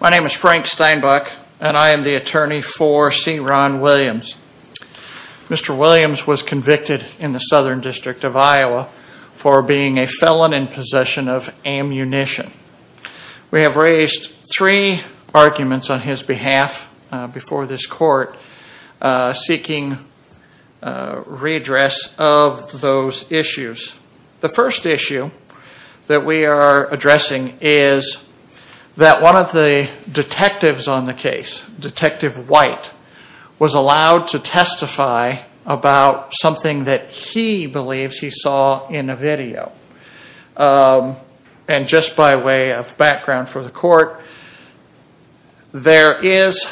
My name is Frank Steinbach and I am the attorney for Ceron Williams. Mr. Williams was convicted in the Southern District of Iowa for being a felon in possession of ammunition. We have raised three arguments on his behalf before this court seeking redress of those issues. The first issue that we are addressing is that one of the detectives on the case, Detective White, was allowed to testify about something that he believes he saw in a video. Just by way of background for the court, there is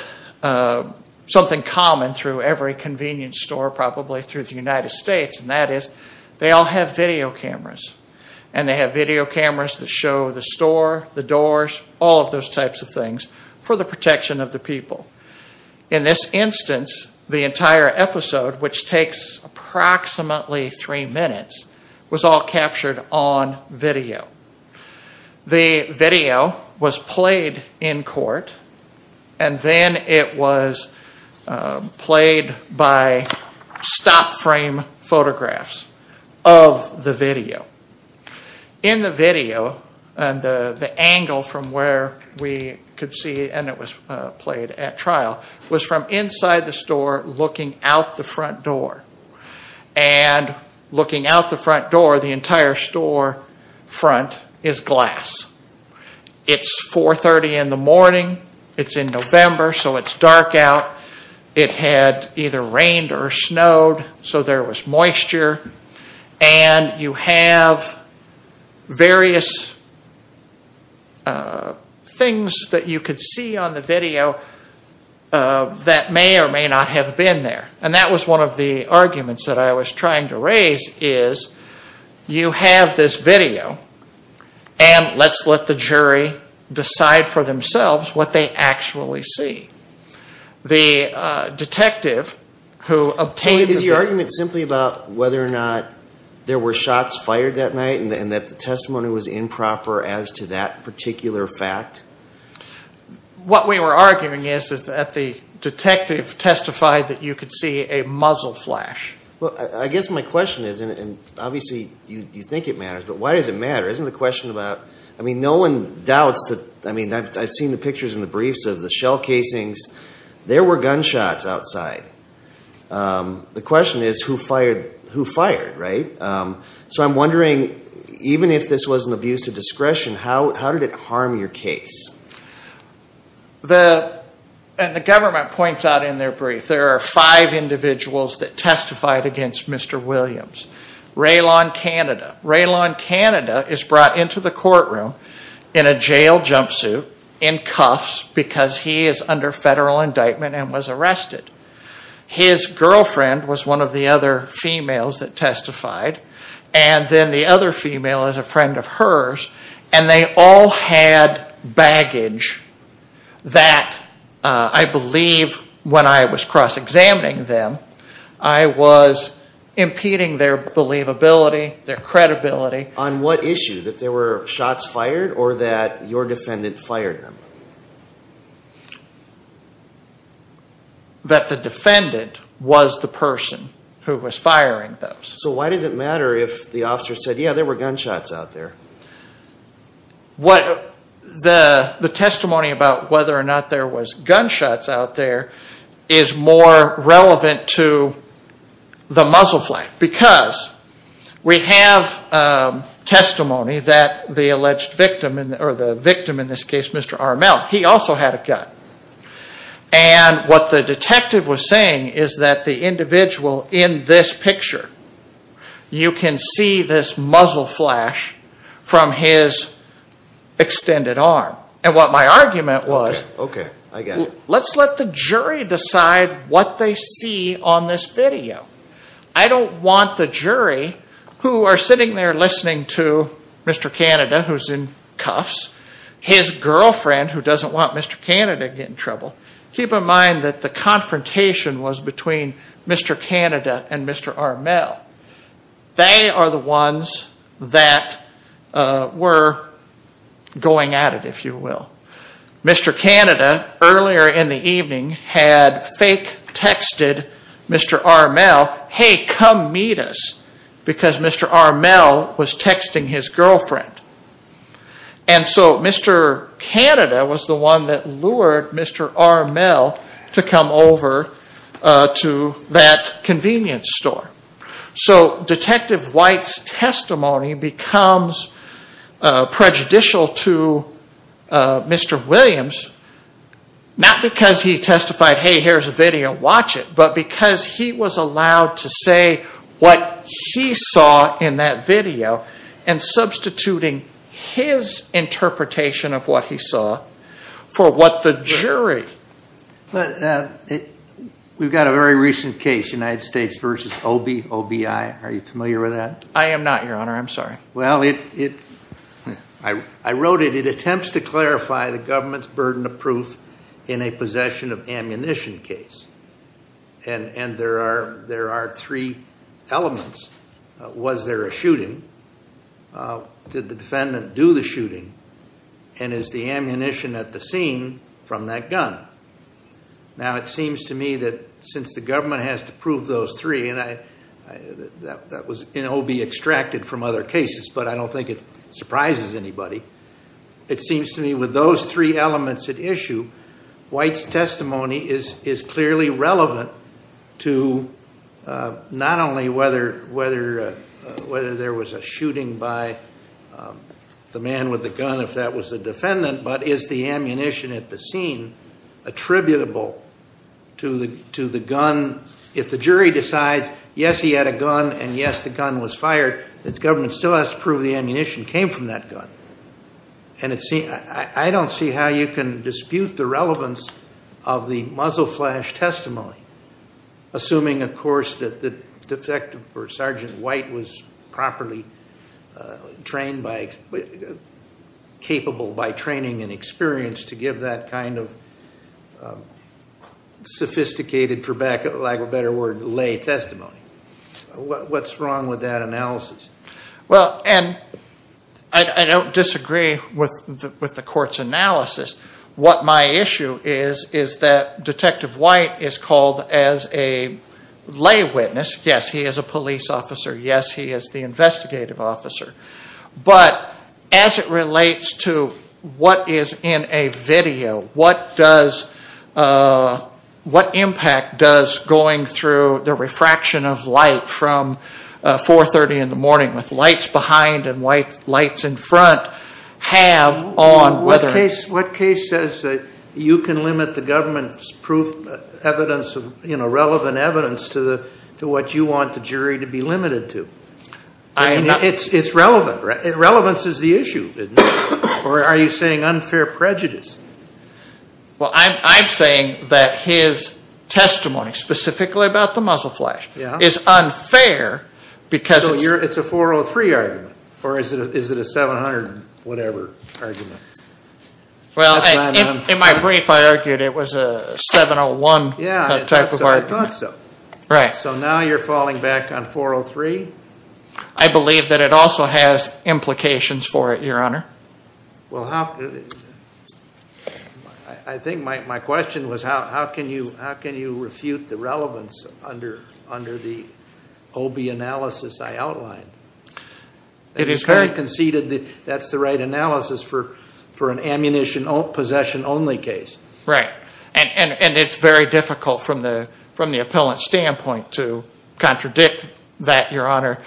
something common through every convenience store probably through the United States and that is they all have video cameras. And they have video cameras that show the store, the doors, all of those types of things for the protection of the people. In this instance, the entire episode, which takes approximately three minutes, was all captured on video. The video was played in court and then it was played by stop frame photographs of the video. In the video, the angle from where we could see, and it was played at trial, was from inside the store looking out the front door. The entire store front is glass. It's 4.30 in the morning. It's in November so it's dark out. It had either rained or snowed so there was moisture. And you have various things that you could see on the video that may or may not have been there. And that was one of the arguments that I was trying to raise is you have this video and let's let the jury decide for themselves what they actually see. The detective who obtained the video… Is your argument simply about whether or not there were shots fired that night and that the testimony was improper as to that particular fact? What we were arguing is that the detective testified that you could see a muzzle flash. Well, I guess my question is, and obviously you think it matters, but why does it matter? Isn't the question about… I mean, no one doubts that… I mean, I've seen the pictures and the briefs of the shell casings. There were gunshots outside. The question is who fired, right? So I'm wondering, even if this was an abuse of discretion, how did it The… and the government points out in their brief there are five individuals that testified against Mr. Williams. Raylon Canada. Raylon Canada is brought into the courtroom in a jail jumpsuit, in cuffs, because he is under federal indictment and was arrested. His girlfriend was one of the other females that testified and then the other female is a friend of hers and they all had baggage that I believe when I was cross-examining them, I was impeding their believability, their credibility. On what issue? That there were shots fired or that your defendant fired them? That the defendant was the person who was firing those. So why does it matter if the officer said, yeah, there were gunshots out there? The testimony about whether or not there was gunshots out there is more relevant to the muzzle flash because we have testimony that the alleged victim, or the victim in this case, Mr. RML, he also had a gun. And what the detective was saying is that the individual in this picture, you can see this muzzle flash from his extended arm. And what my argument was, let's let the jury decide what they see on this video. I don't want the jury who are sitting there listening to Mr. Canada who is in cuffs, his girlfriend who doesn't want Mr. Canada to get in trouble. Keep in mind that the confrontation was between Mr. Canada and Mr. RML. They are the ones that were going at it, if you will. Mr. Canada, earlier in the evening, had fake texted Mr. RML, hey, come meet us, because Mr. RML was texting his girlfriend. And so Mr. Canada was the one that lured Mr. RML to come over to that convenience store. So Detective White's testimony becomes prejudicial to Mr. Williams, not because he testified, hey, here's a video, watch it, but because he was allowed to say what he saw in that video and substituting his interpretation of what he saw for what the jury. We've got a very recent case, United States v. OBI. Are you familiar with that? I am not, Your Honor. I'm sorry. Well, I wrote it. It attempts to clarify the government's burden of proof in a possession of ammunition case. And there are three elements. Was there a shooting? Did the defendant do the shooting? And is the ammunition at the scene from that gun? Now, it seems to me that since the government has to prove those three, and that was in OBI extracted from other cases, but I don't think it surprises anybody. It seems to me with those three elements at issue, White's testimony is clearly relevant to not only whether there was a shooting by the man with the gun if that was the defendant, but is the ammunition at the scene attributable to the gun? If the jury decides, yes, he had a gun, and yes, the gun was fired, the government still has to prove the ammunition came from that gun. And I don't see how you can dispute the relevance of the muzzle flash testimony, assuming, of course, that the defective or Sergeant White was properly trained by, capable by training and experience to give that kind of sophisticated, for lack of a better word, lay testimony. What's wrong with that analysis? Well, and I don't disagree with the court's analysis. What my issue is, is that Detective White is called as a lay witness. Yes, he is a police officer. Yes, he is the investigative officer. But as it relates to what is in a video, what does, what impact does going through the refraction of light from 430 in the morning with lights behind and lights in front have on whether What case says that you can limit the government's proof, evidence, you know, relevant evidence to what you want the jury to be limited to? It's relevant, right? Relevance is the issue, isn't it? Or are you saying unfair prejudice? Well, I'm saying that his testimony, specifically about the muzzle flash, is unfair because So it's a 403 argument? Or is it a 700-whatever argument? Well, in my brief, I argued it was a 701 type of argument. Yeah, I thought so. So now you're falling back on 403? I believe that it also has implications for it, Your Honor. Well, I think my question was how can you refute the relevance under the OB analysis I outlined? It is fair conceded that that's the right analysis for an ammunition possession only case. Right. And it's very difficult from the appellant's standpoint to contradict that, Your Honor.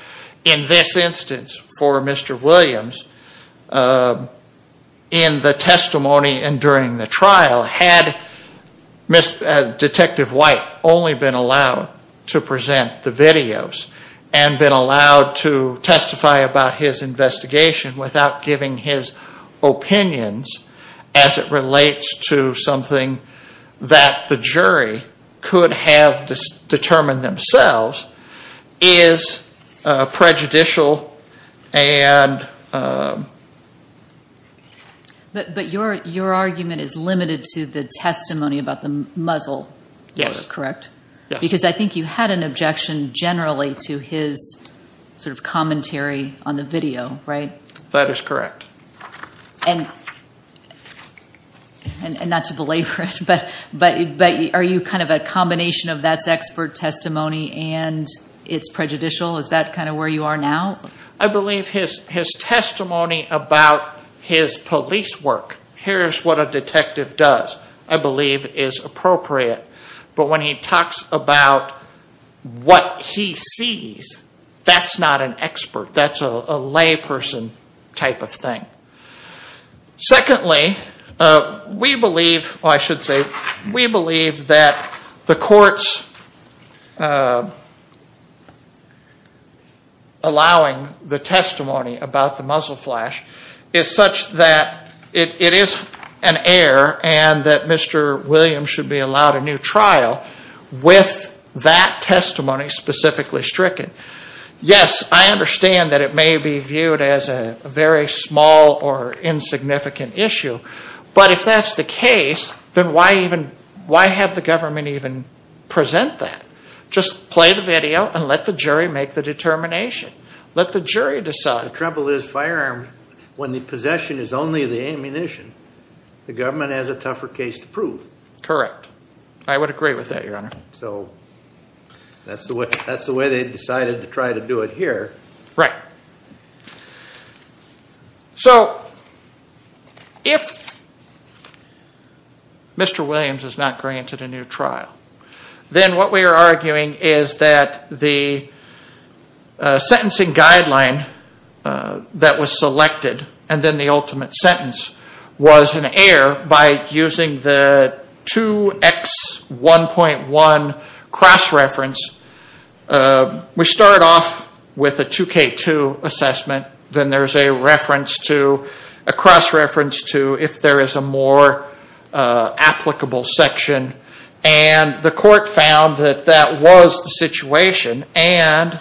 In this instance, for Mr. Williams, in the testimony and during the trial, had Detective White only been allowed to present the videos and been allowed to testify about his investigation without giving his opinions as it relates to something that the jury could have determined themselves, is prejudicial and But your argument is limited to the testimony about the muzzle, correct? Yes. Because I think you had an objection generally to his sort of commentary on the video, right? That is correct. And not to belabor it, but are you kind of a combination of that's expert testimony and it's prejudicial? Is that kind of where you are now? I believe his testimony about his police work, here's what a detective does, I believe is appropriate. But when he talks about what he sees, that's not an expert, that's a layperson type of thing. Secondly, we believe that the court's allowing the testimony about the muzzle flash is such that it is an error and that Mr. Williams should be allowed a new trial with that testimony specifically stricken. Yes, I understand that it may be viewed as a very small or insignificant issue, but if that's the case, then why have the government even present that? Just play the video and let the jury make the determination. Let the jury decide. Well, the trouble is firearms, when the possession is only the ammunition, the government has a tougher case to prove. Correct. I would agree with that, Your Honor. So that's the way they decided to try to do it here. Right. So, if Mr. Williams is not granted a new trial, then what we are arguing is that the sentencing guideline that was selected and then the ultimate sentence was an error by using the 2X1.1 cross-reference. We start off with a 2K2 assessment. Then there's a cross-reference to if there is a more applicable section. And the court found that that was the situation and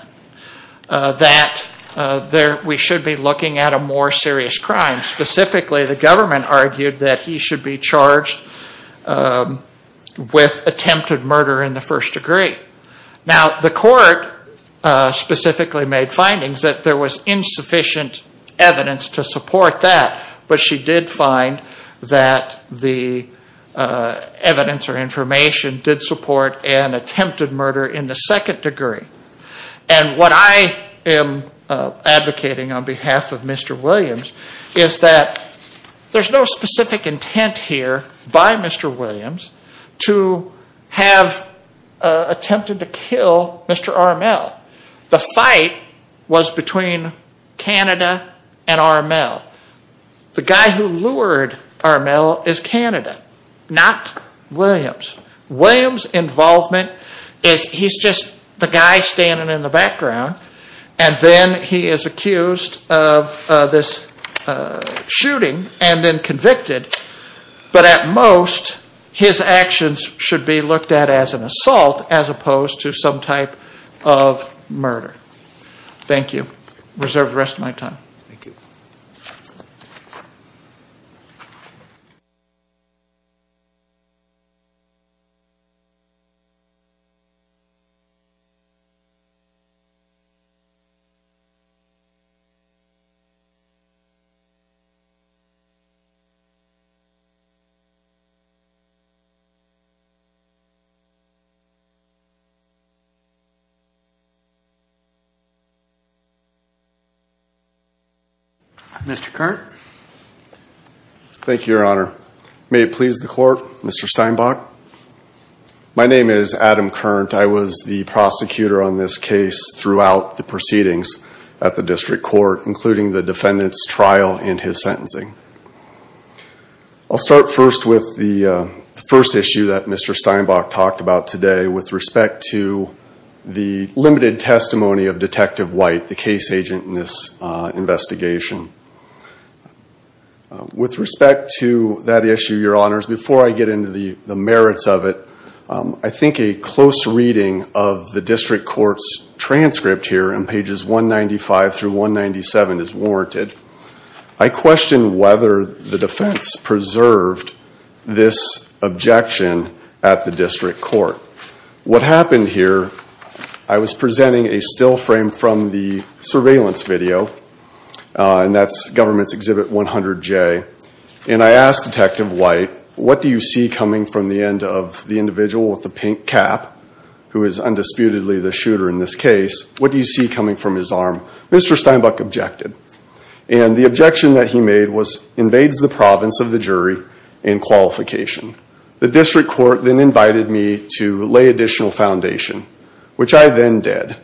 that we should be looking at a more serious crime. And specifically, the government argued that he should be charged with attempted murder in the first degree. Now, the court specifically made findings that there was insufficient evidence to support that, but she did find that the evidence or information did support an attempted murder in the second degree. And what I am advocating on behalf of Mr. Williams is that there's no specific intent here by Mr. Williams to have attempted to kill Mr. Armel. The fight was between Canada and Armel. The guy who lured Armel is Canada, not Williams. Williams' involvement is he's just the guy standing in the background and then he is accused of this shooting and then convicted. But at most, his actions should be looked at as an assault as opposed to some type of murder. Thank you. Reserve the rest of my time. Thank you. Mr. Curt. May it please the court, Mr. Steinbach. My name is Adam Curt. I was the prosecutor on this case throughout the proceedings at the district court, including the defendant's trial and his sentencing. I'll start first with the first issue that Mr. Steinbach talked about today with respect to the limited testimony of Detective White, the case agent in this investigation. With respect to that issue, your honors, before I get into the merits of it, I think a close reading of the district court's transcript here on pages 195 through 197 is warranted. I question whether the defense preserved this objection at the district court. What happened here, I was presenting a still frame from the surveillance video. And that's Government's Exhibit 100J. And I asked Detective White, what do you see coming from the end of the individual with the pink cap, who is undisputedly the shooter in this case, what do you see coming from his arm? Mr. Steinbach objected. And the objection that he made was, invades the province of the jury in qualification. The district court then invited me to lay additional foundation, which I then did.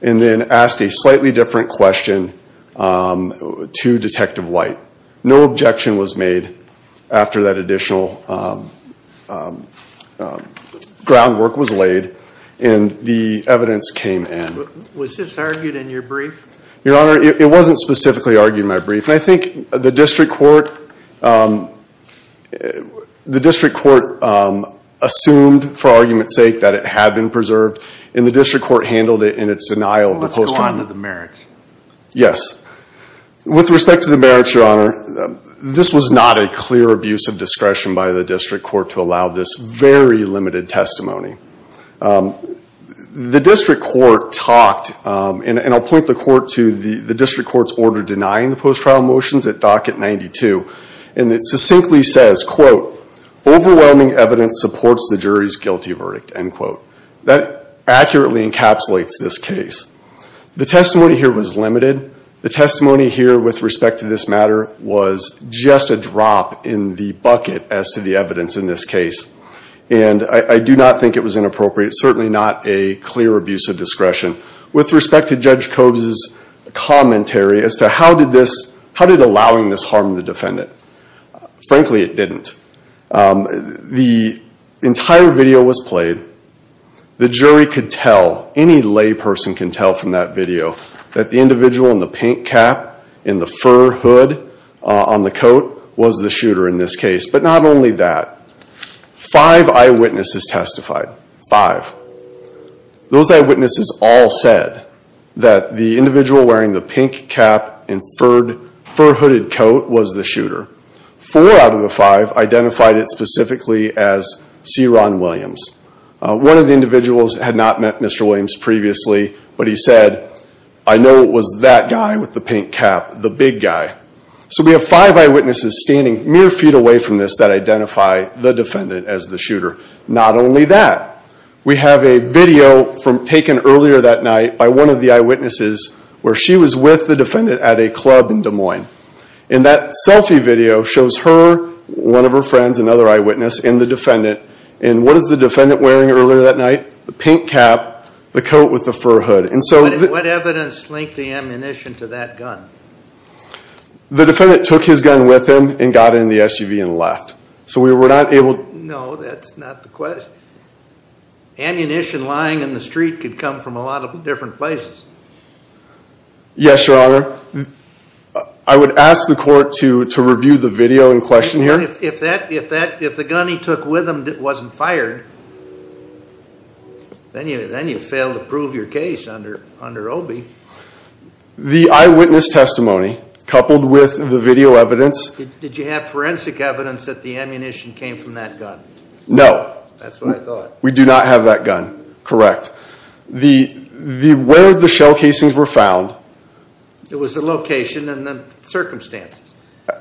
And then asked a slightly different question to Detective White. No objection was made after that additional groundwork was laid, and the evidence came in. Was this argued in your brief? Your honor, it wasn't specifically argued in my brief. And I think the district court assumed, for argument's sake, that it had been preserved. And the district court handled it in its denial of the post-trial. Let's go on to the merits. Yes. With respect to the merits, your honor, this was not a clear abuse of discretion by the district court to allow this very limited testimony. The district court talked, and I'll point the court to the district court's order denying the post-trial motions at Docket 92. And it succinctly says, quote, overwhelming evidence supports the jury's guilty verdict, end quote. That accurately encapsulates this case. The testimony here was limited. The testimony here with respect to this matter was just a drop in the bucket as to the evidence in this case. And I do not think it was inappropriate. It's certainly not a clear abuse of discretion. With respect to Judge Cobes' commentary as to how did this, how did allowing this harm the defendant? Frankly, it didn't. The entire video was played. The jury could tell, any lay person can tell from that video, that the individual in the pink cap and the fur hood on the coat was the shooter in this case. But not only that, five eyewitnesses testified, five. Those eyewitnesses all said that the individual wearing the pink cap and fur hooded coat was the shooter. Four out of the five identified it specifically as C. Ron Williams. One of the individuals had not met Mr. Williams previously, but he said, I know it was that guy with the pink cap, the big guy. So we have five eyewitnesses standing mere feet away from this that identify the defendant as the shooter. Not only that, we have a video taken earlier that night by one of the eyewitnesses And that selfie video shows her, one of her friends, another eyewitness, and the defendant. And what is the defendant wearing earlier that night? The pink cap, the coat with the fur hood. What evidence linked the ammunition to that gun? The defendant took his gun with him and got in the SUV and left. No, that's not the question. Ammunition lying in the street could come from a lot of different places. Yes, Your Honor. I would ask the court to review the video in question here. If the gun he took with him wasn't fired, then you failed to prove your case under Obi. The eyewitness testimony coupled with the video evidence. Did you have forensic evidence that the ammunition came from that gun? No. That's what I thought. We do not have that gun. Correct. Where the shell casings were found. It was the location and the circumstances.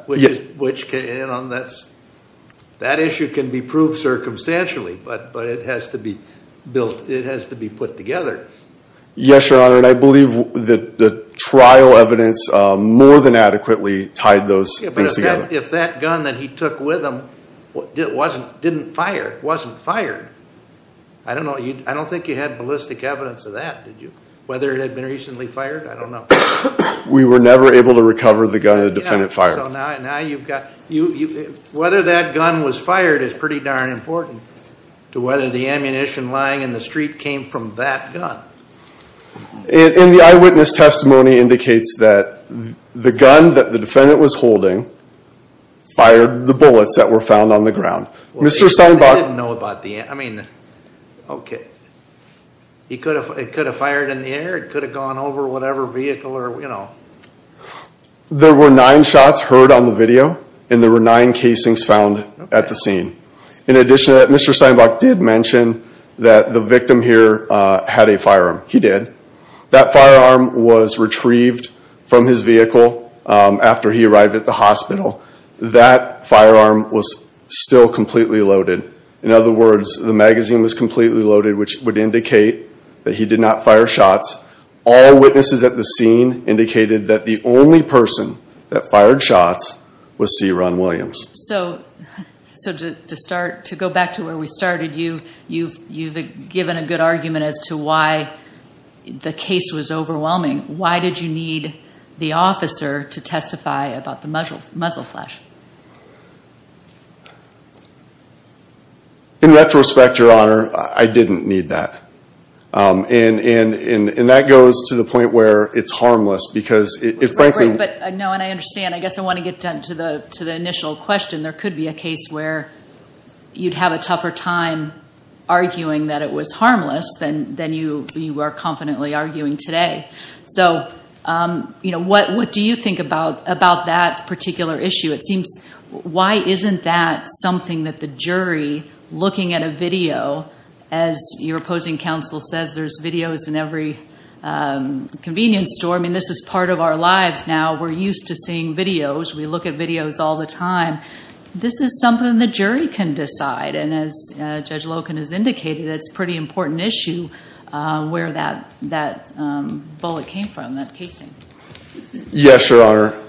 That issue can be proved circumstantially, but it has to be put together. Yes, Your Honor. And I believe the trial evidence more than adequately tied those things together. If that gun that he took with him didn't fire, it wasn't fired. I don't know. I don't think you had ballistic evidence of that. Whether it had been recently fired, I don't know. We were never able to recover the gun the defendant fired. Whether that gun was fired is pretty darn important to whether the ammunition lying in the street came from that gun. And the eyewitness testimony indicates that the gun that the defendant was holding fired the bullets that were found on the ground. They didn't know about the ammunition. Okay. It could have fired in the air. It could have gone over whatever vehicle. There were nine shots heard on the video, and there were nine casings found at the scene. In addition to that, Mr. Steinbach did mention that the victim here had a firearm. He did. That firearm was retrieved from his vehicle after he arrived at the hospital. That firearm was still completely loaded. In other words, the magazine was completely loaded, which would indicate that he did not fire shots. All witnesses at the scene indicated that the only person that fired shots was C. Ron Williams. So to go back to where we started, you've given a good argument as to why the case was overwhelming. Why did you need the officer to testify about the muzzle flash? In retrospect, Your Honor, I didn't need that. And that goes to the point where it's harmless because it frankly— Right, right. But no, and I understand. I guess I want to get down to the initial question. There could be a case where you'd have a tougher time arguing that it was harmless than you are confidently arguing today. So what do you think about that particular issue? It seems—why isn't that something that the jury, looking at a video, as your opposing counsel says, there's videos in every convenience store. I mean, this is part of our lives now. We're used to seeing videos. We look at videos all the time. This is something the jury can decide. And as Judge Loken has indicated, it's a pretty important issue where that bullet came from, that case. Yes, Your Honor.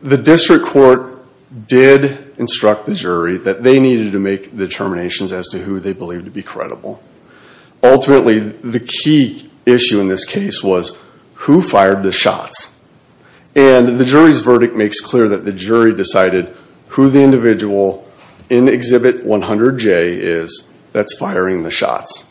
The district court did instruct the jury that they needed to make determinations as to who they believed to be credible. Ultimately, the key issue in this case was who fired the shots. And the jury's verdict makes clear that the jury decided who the individual in Exhibit 100J is that's firing the shots.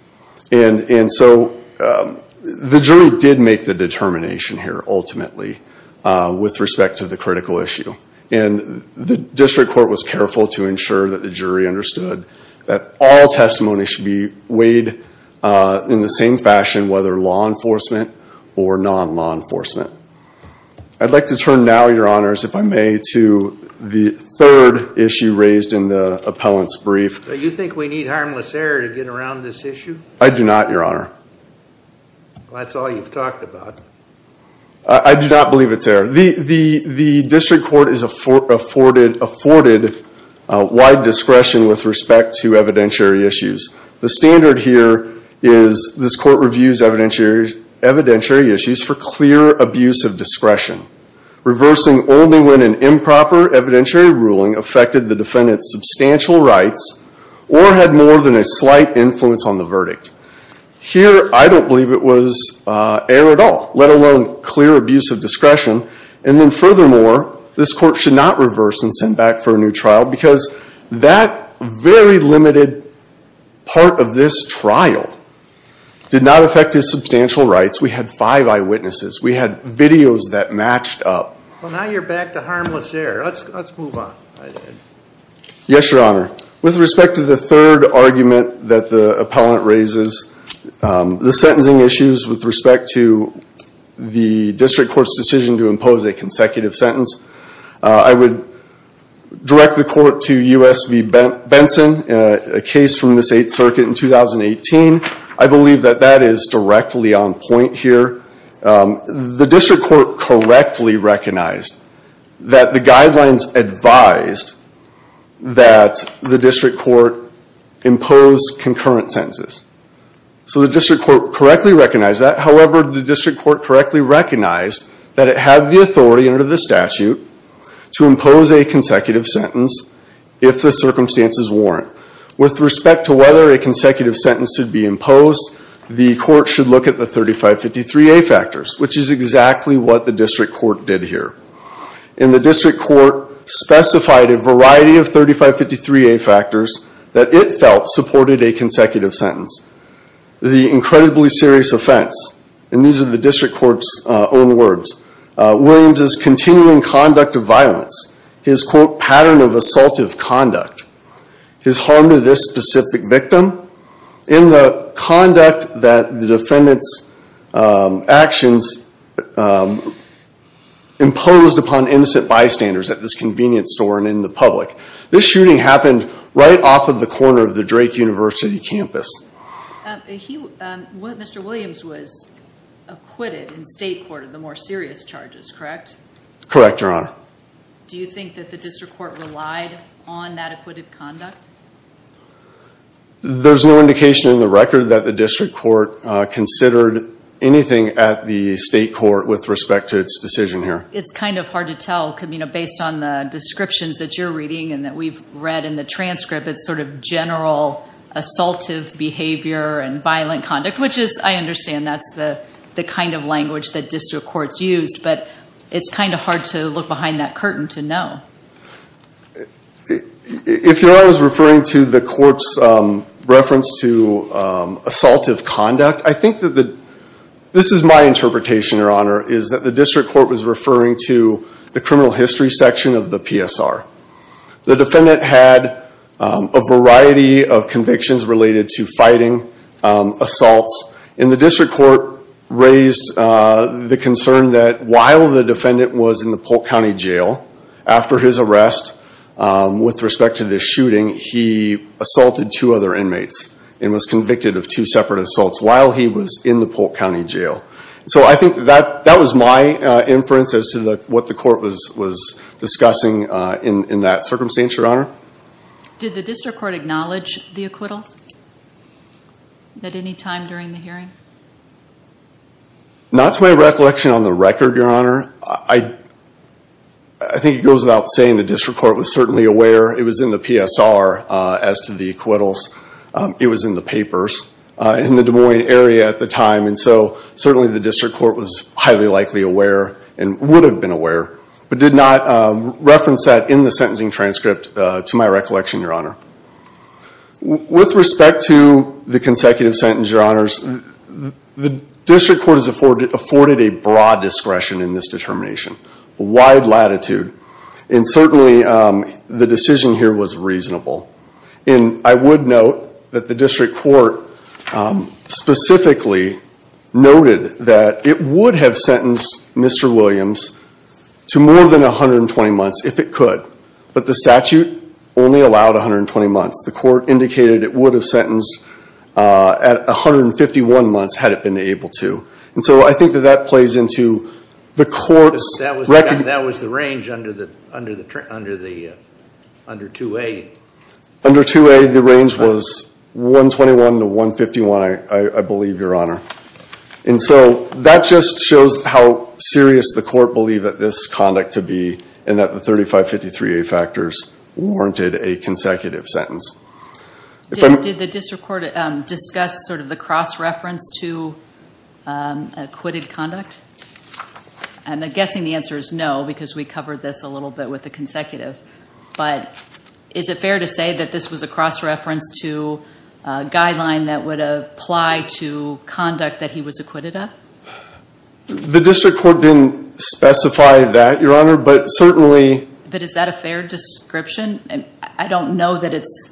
And so the jury did make the determination here, ultimately, with respect to the critical issue. And the district court was careful to ensure that the jury understood that all testimony should be weighed in the same fashion, whether law enforcement or non-law enforcement. I'd like to turn now, Your Honors, if I may, to the third issue raised in the appellant's brief. Do you think we need harmless error to get around this issue? I do not, Your Honor. Well, that's all you've talked about. I do not believe it's error. The district court is afforded wide discretion with respect to evidentiary issues. The standard here is this court reviews evidentiary issues for clear abuse of discretion, reversing only when an improper evidentiary ruling affected the defendant's substantial rights or had more than a slight influence on the verdict. Here, I don't believe it was error at all, let alone clear abuse of discretion. And then furthermore, this court should not reverse and send back for a new trial because that very limited part of this trial did not affect his substantial rights. We had five eyewitnesses. We had videos that matched up. Well, now you're back to harmless error. Let's move on. Yes, Your Honor. With respect to the third argument that the appellant raises, the sentencing issues with respect to the district court's decision to impose a consecutive sentence, I would direct the court to U.S. v. Benson, a case from the 8th Circuit in 2018. I believe that that is directly on point here. The district court correctly recognized that the guidelines advised that the district court impose concurrent sentences. So the district court correctly recognized that. However, the district court correctly recognized that it had the authority under the statute to impose a consecutive sentence if the circumstances warrant. With respect to whether a consecutive sentence should be imposed, the court should look at the 3553A factors, which is exactly what the district court did here. And the district court specified a variety of 3553A factors that it felt supported a consecutive sentence. The incredibly serious offense, and these are the district court's own words, Williams's continuing conduct of violence, his, quote, pattern of assaultive conduct, his harm to this specific victim. And the conduct that the defendant's actions imposed upon innocent bystanders at this convenience store and in the public. This shooting happened right off of the corner of the Drake University campus. Mr. Williams was acquitted in state court of the more serious charges, correct? Correct, Your Honor. Do you think that the district court relied on that acquitted conduct? There's no indication in the record that the district court considered anything at the state court with respect to its decision here. It's kind of hard to tell based on the descriptions that you're reading and that we've read in the transcript. It's sort of general assaultive behavior and violent conduct, which is, I understand, that's the kind of language that district courts used. But it's kind of hard to look behind that curtain to know. If Your Honor is referring to the court's reference to assaultive conduct, I think that the, this is my interpretation, Your Honor, is that the district court was referring to the criminal history section of the PSR. The defendant had a variety of convictions related to fighting, assaults, and the district court raised the concern that while the defendant was in the Polk County Jail, after his arrest with respect to this shooting, he assaulted two other inmates and was convicted of two separate assaults while he was in the Polk County Jail. So I think that was my inference as to what the court was discussing in that circumstance, Your Honor. Did the district court acknowledge the acquittals at any time during the hearing? Not to my recollection on the record, Your Honor. I think it goes without saying the district court was certainly aware. It was in the PSR as to the acquittals. It was in the papers in the Des Moines area at the time. And so certainly the district court was highly likely aware and would have been aware, but did not reference that in the sentencing transcript to my recollection, Your Honor. With respect to the consecutive sentence, Your Honors, the district court has afforded a broad discretion in this determination, a wide latitude, and certainly the decision here was reasonable. And I would note that the district court specifically noted that it would have sentenced Mr. Williams to more than 120 months if it could, but the statute only allowed 120 months. The court indicated it would have sentenced at 151 months had it been able to. And so I think that that plays into the court's record. That was the range under 2A. Under 2A, the range was 121 to 151, I believe, Your Honor. And so that just shows how serious the court believed that this conduct to be and that the 3553A factors warranted a consecutive sentence. Did the district court discuss sort of the cross-reference to acquitted conduct? I'm guessing the answer is no because we covered this a little bit with the consecutive. But is it fair to say that this was a cross-reference to a guideline that would apply to conduct that he was acquitted of? The district court didn't specify that, Your Honor, but certainly— But is that a fair description? I don't know that it's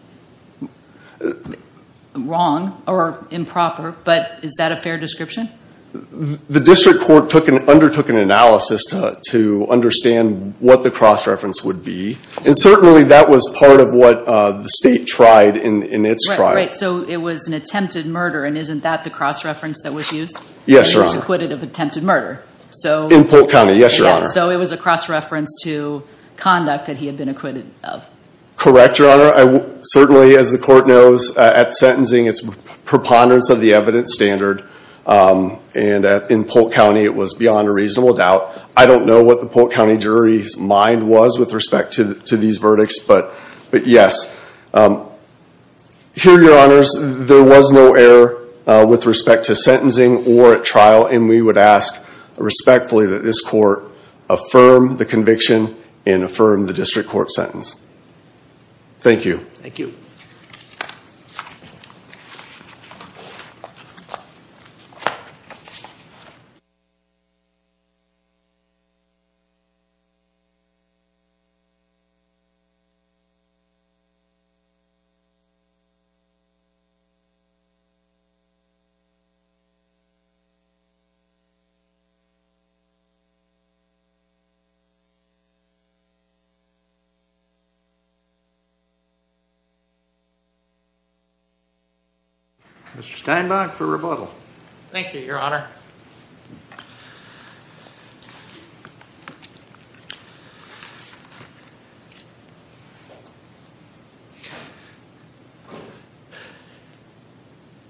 wrong or improper, but is that a fair description? The district court undertook an analysis to understand what the cross-reference would be, and certainly that was part of what the state tried in its trial. Right, so it was an attempted murder, and isn't that the cross-reference that was used? Yes, Your Honor. That he was acquitted of attempted murder. In Polk County, yes, Your Honor. So it was a cross-reference to conduct that he had been acquitted of. Correct, Your Honor. Certainly, as the court knows, at sentencing it's preponderance of the evidence standard, and in Polk County it was beyond a reasonable doubt. I don't know what the Polk County jury's mind was with respect to these verdicts, but yes. Here, Your Honors, there was no error with respect to sentencing or at trial, and we would ask respectfully that this court affirm the conviction and affirm the district court sentence. Thank you. Thank you. Mr. Steinbach for rebuttal. Thank you, Your Honor.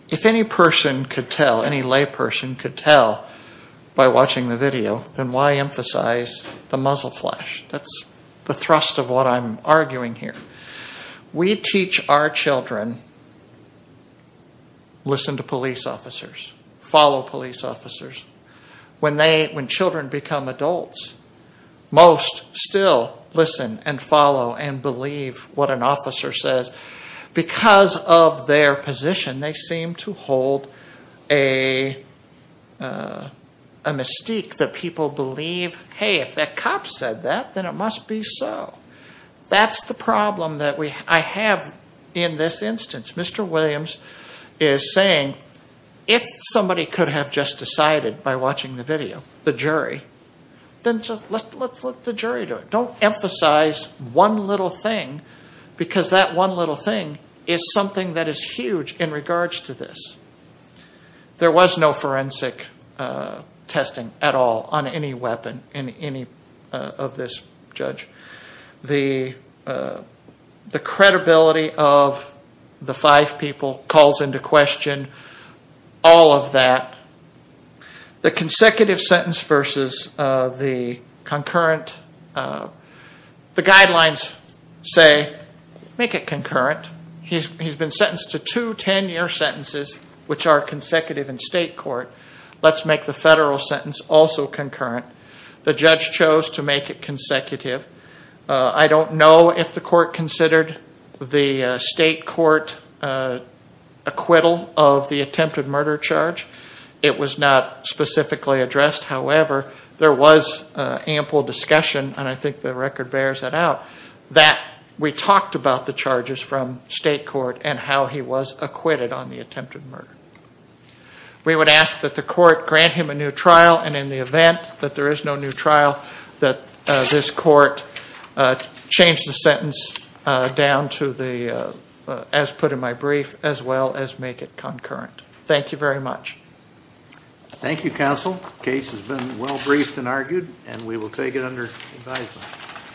If any person could tell, any lay person could tell by watching the video, then why emphasize the muzzle flash? That's the thrust of what I'm arguing here. We teach our children, listen to police officers, follow police officers. When children become adults, most still listen and follow and believe what an officer says. Because of their position, they seem to hold a mystique that people believe, hey, if that cop said that, then it must be so. That's the problem that I have in this instance. Mr. Williams is saying, if somebody could have just decided by watching the video, the jury, then let's let the jury do it. Don't emphasize one little thing, because that one little thing is something that is huge in regards to this. There was no forensic testing at all on any weapon in any of this, Judge. The credibility of the five people calls into question all of that. The consecutive sentence versus the concurrent, the guidelines say make it concurrent. He's been sentenced to two 10-year sentences, which are consecutive in state court. Let's make the federal sentence also concurrent. The judge chose to make it consecutive. I don't know if the court considered the state court acquittal of the attempted murder charge. It was not specifically addressed. However, there was ample discussion, and I think the record bears that out, that we talked about the charges from state court and how he was acquitted on the attempted murder. We would ask that the court grant him a new trial, and in the event that there is no new trial, that this court change the sentence down to the, as put in my brief, as well as make it concurrent. Thank you very much. Thank you, counsel. The case has been well briefed and argued, and we will take it under advisement.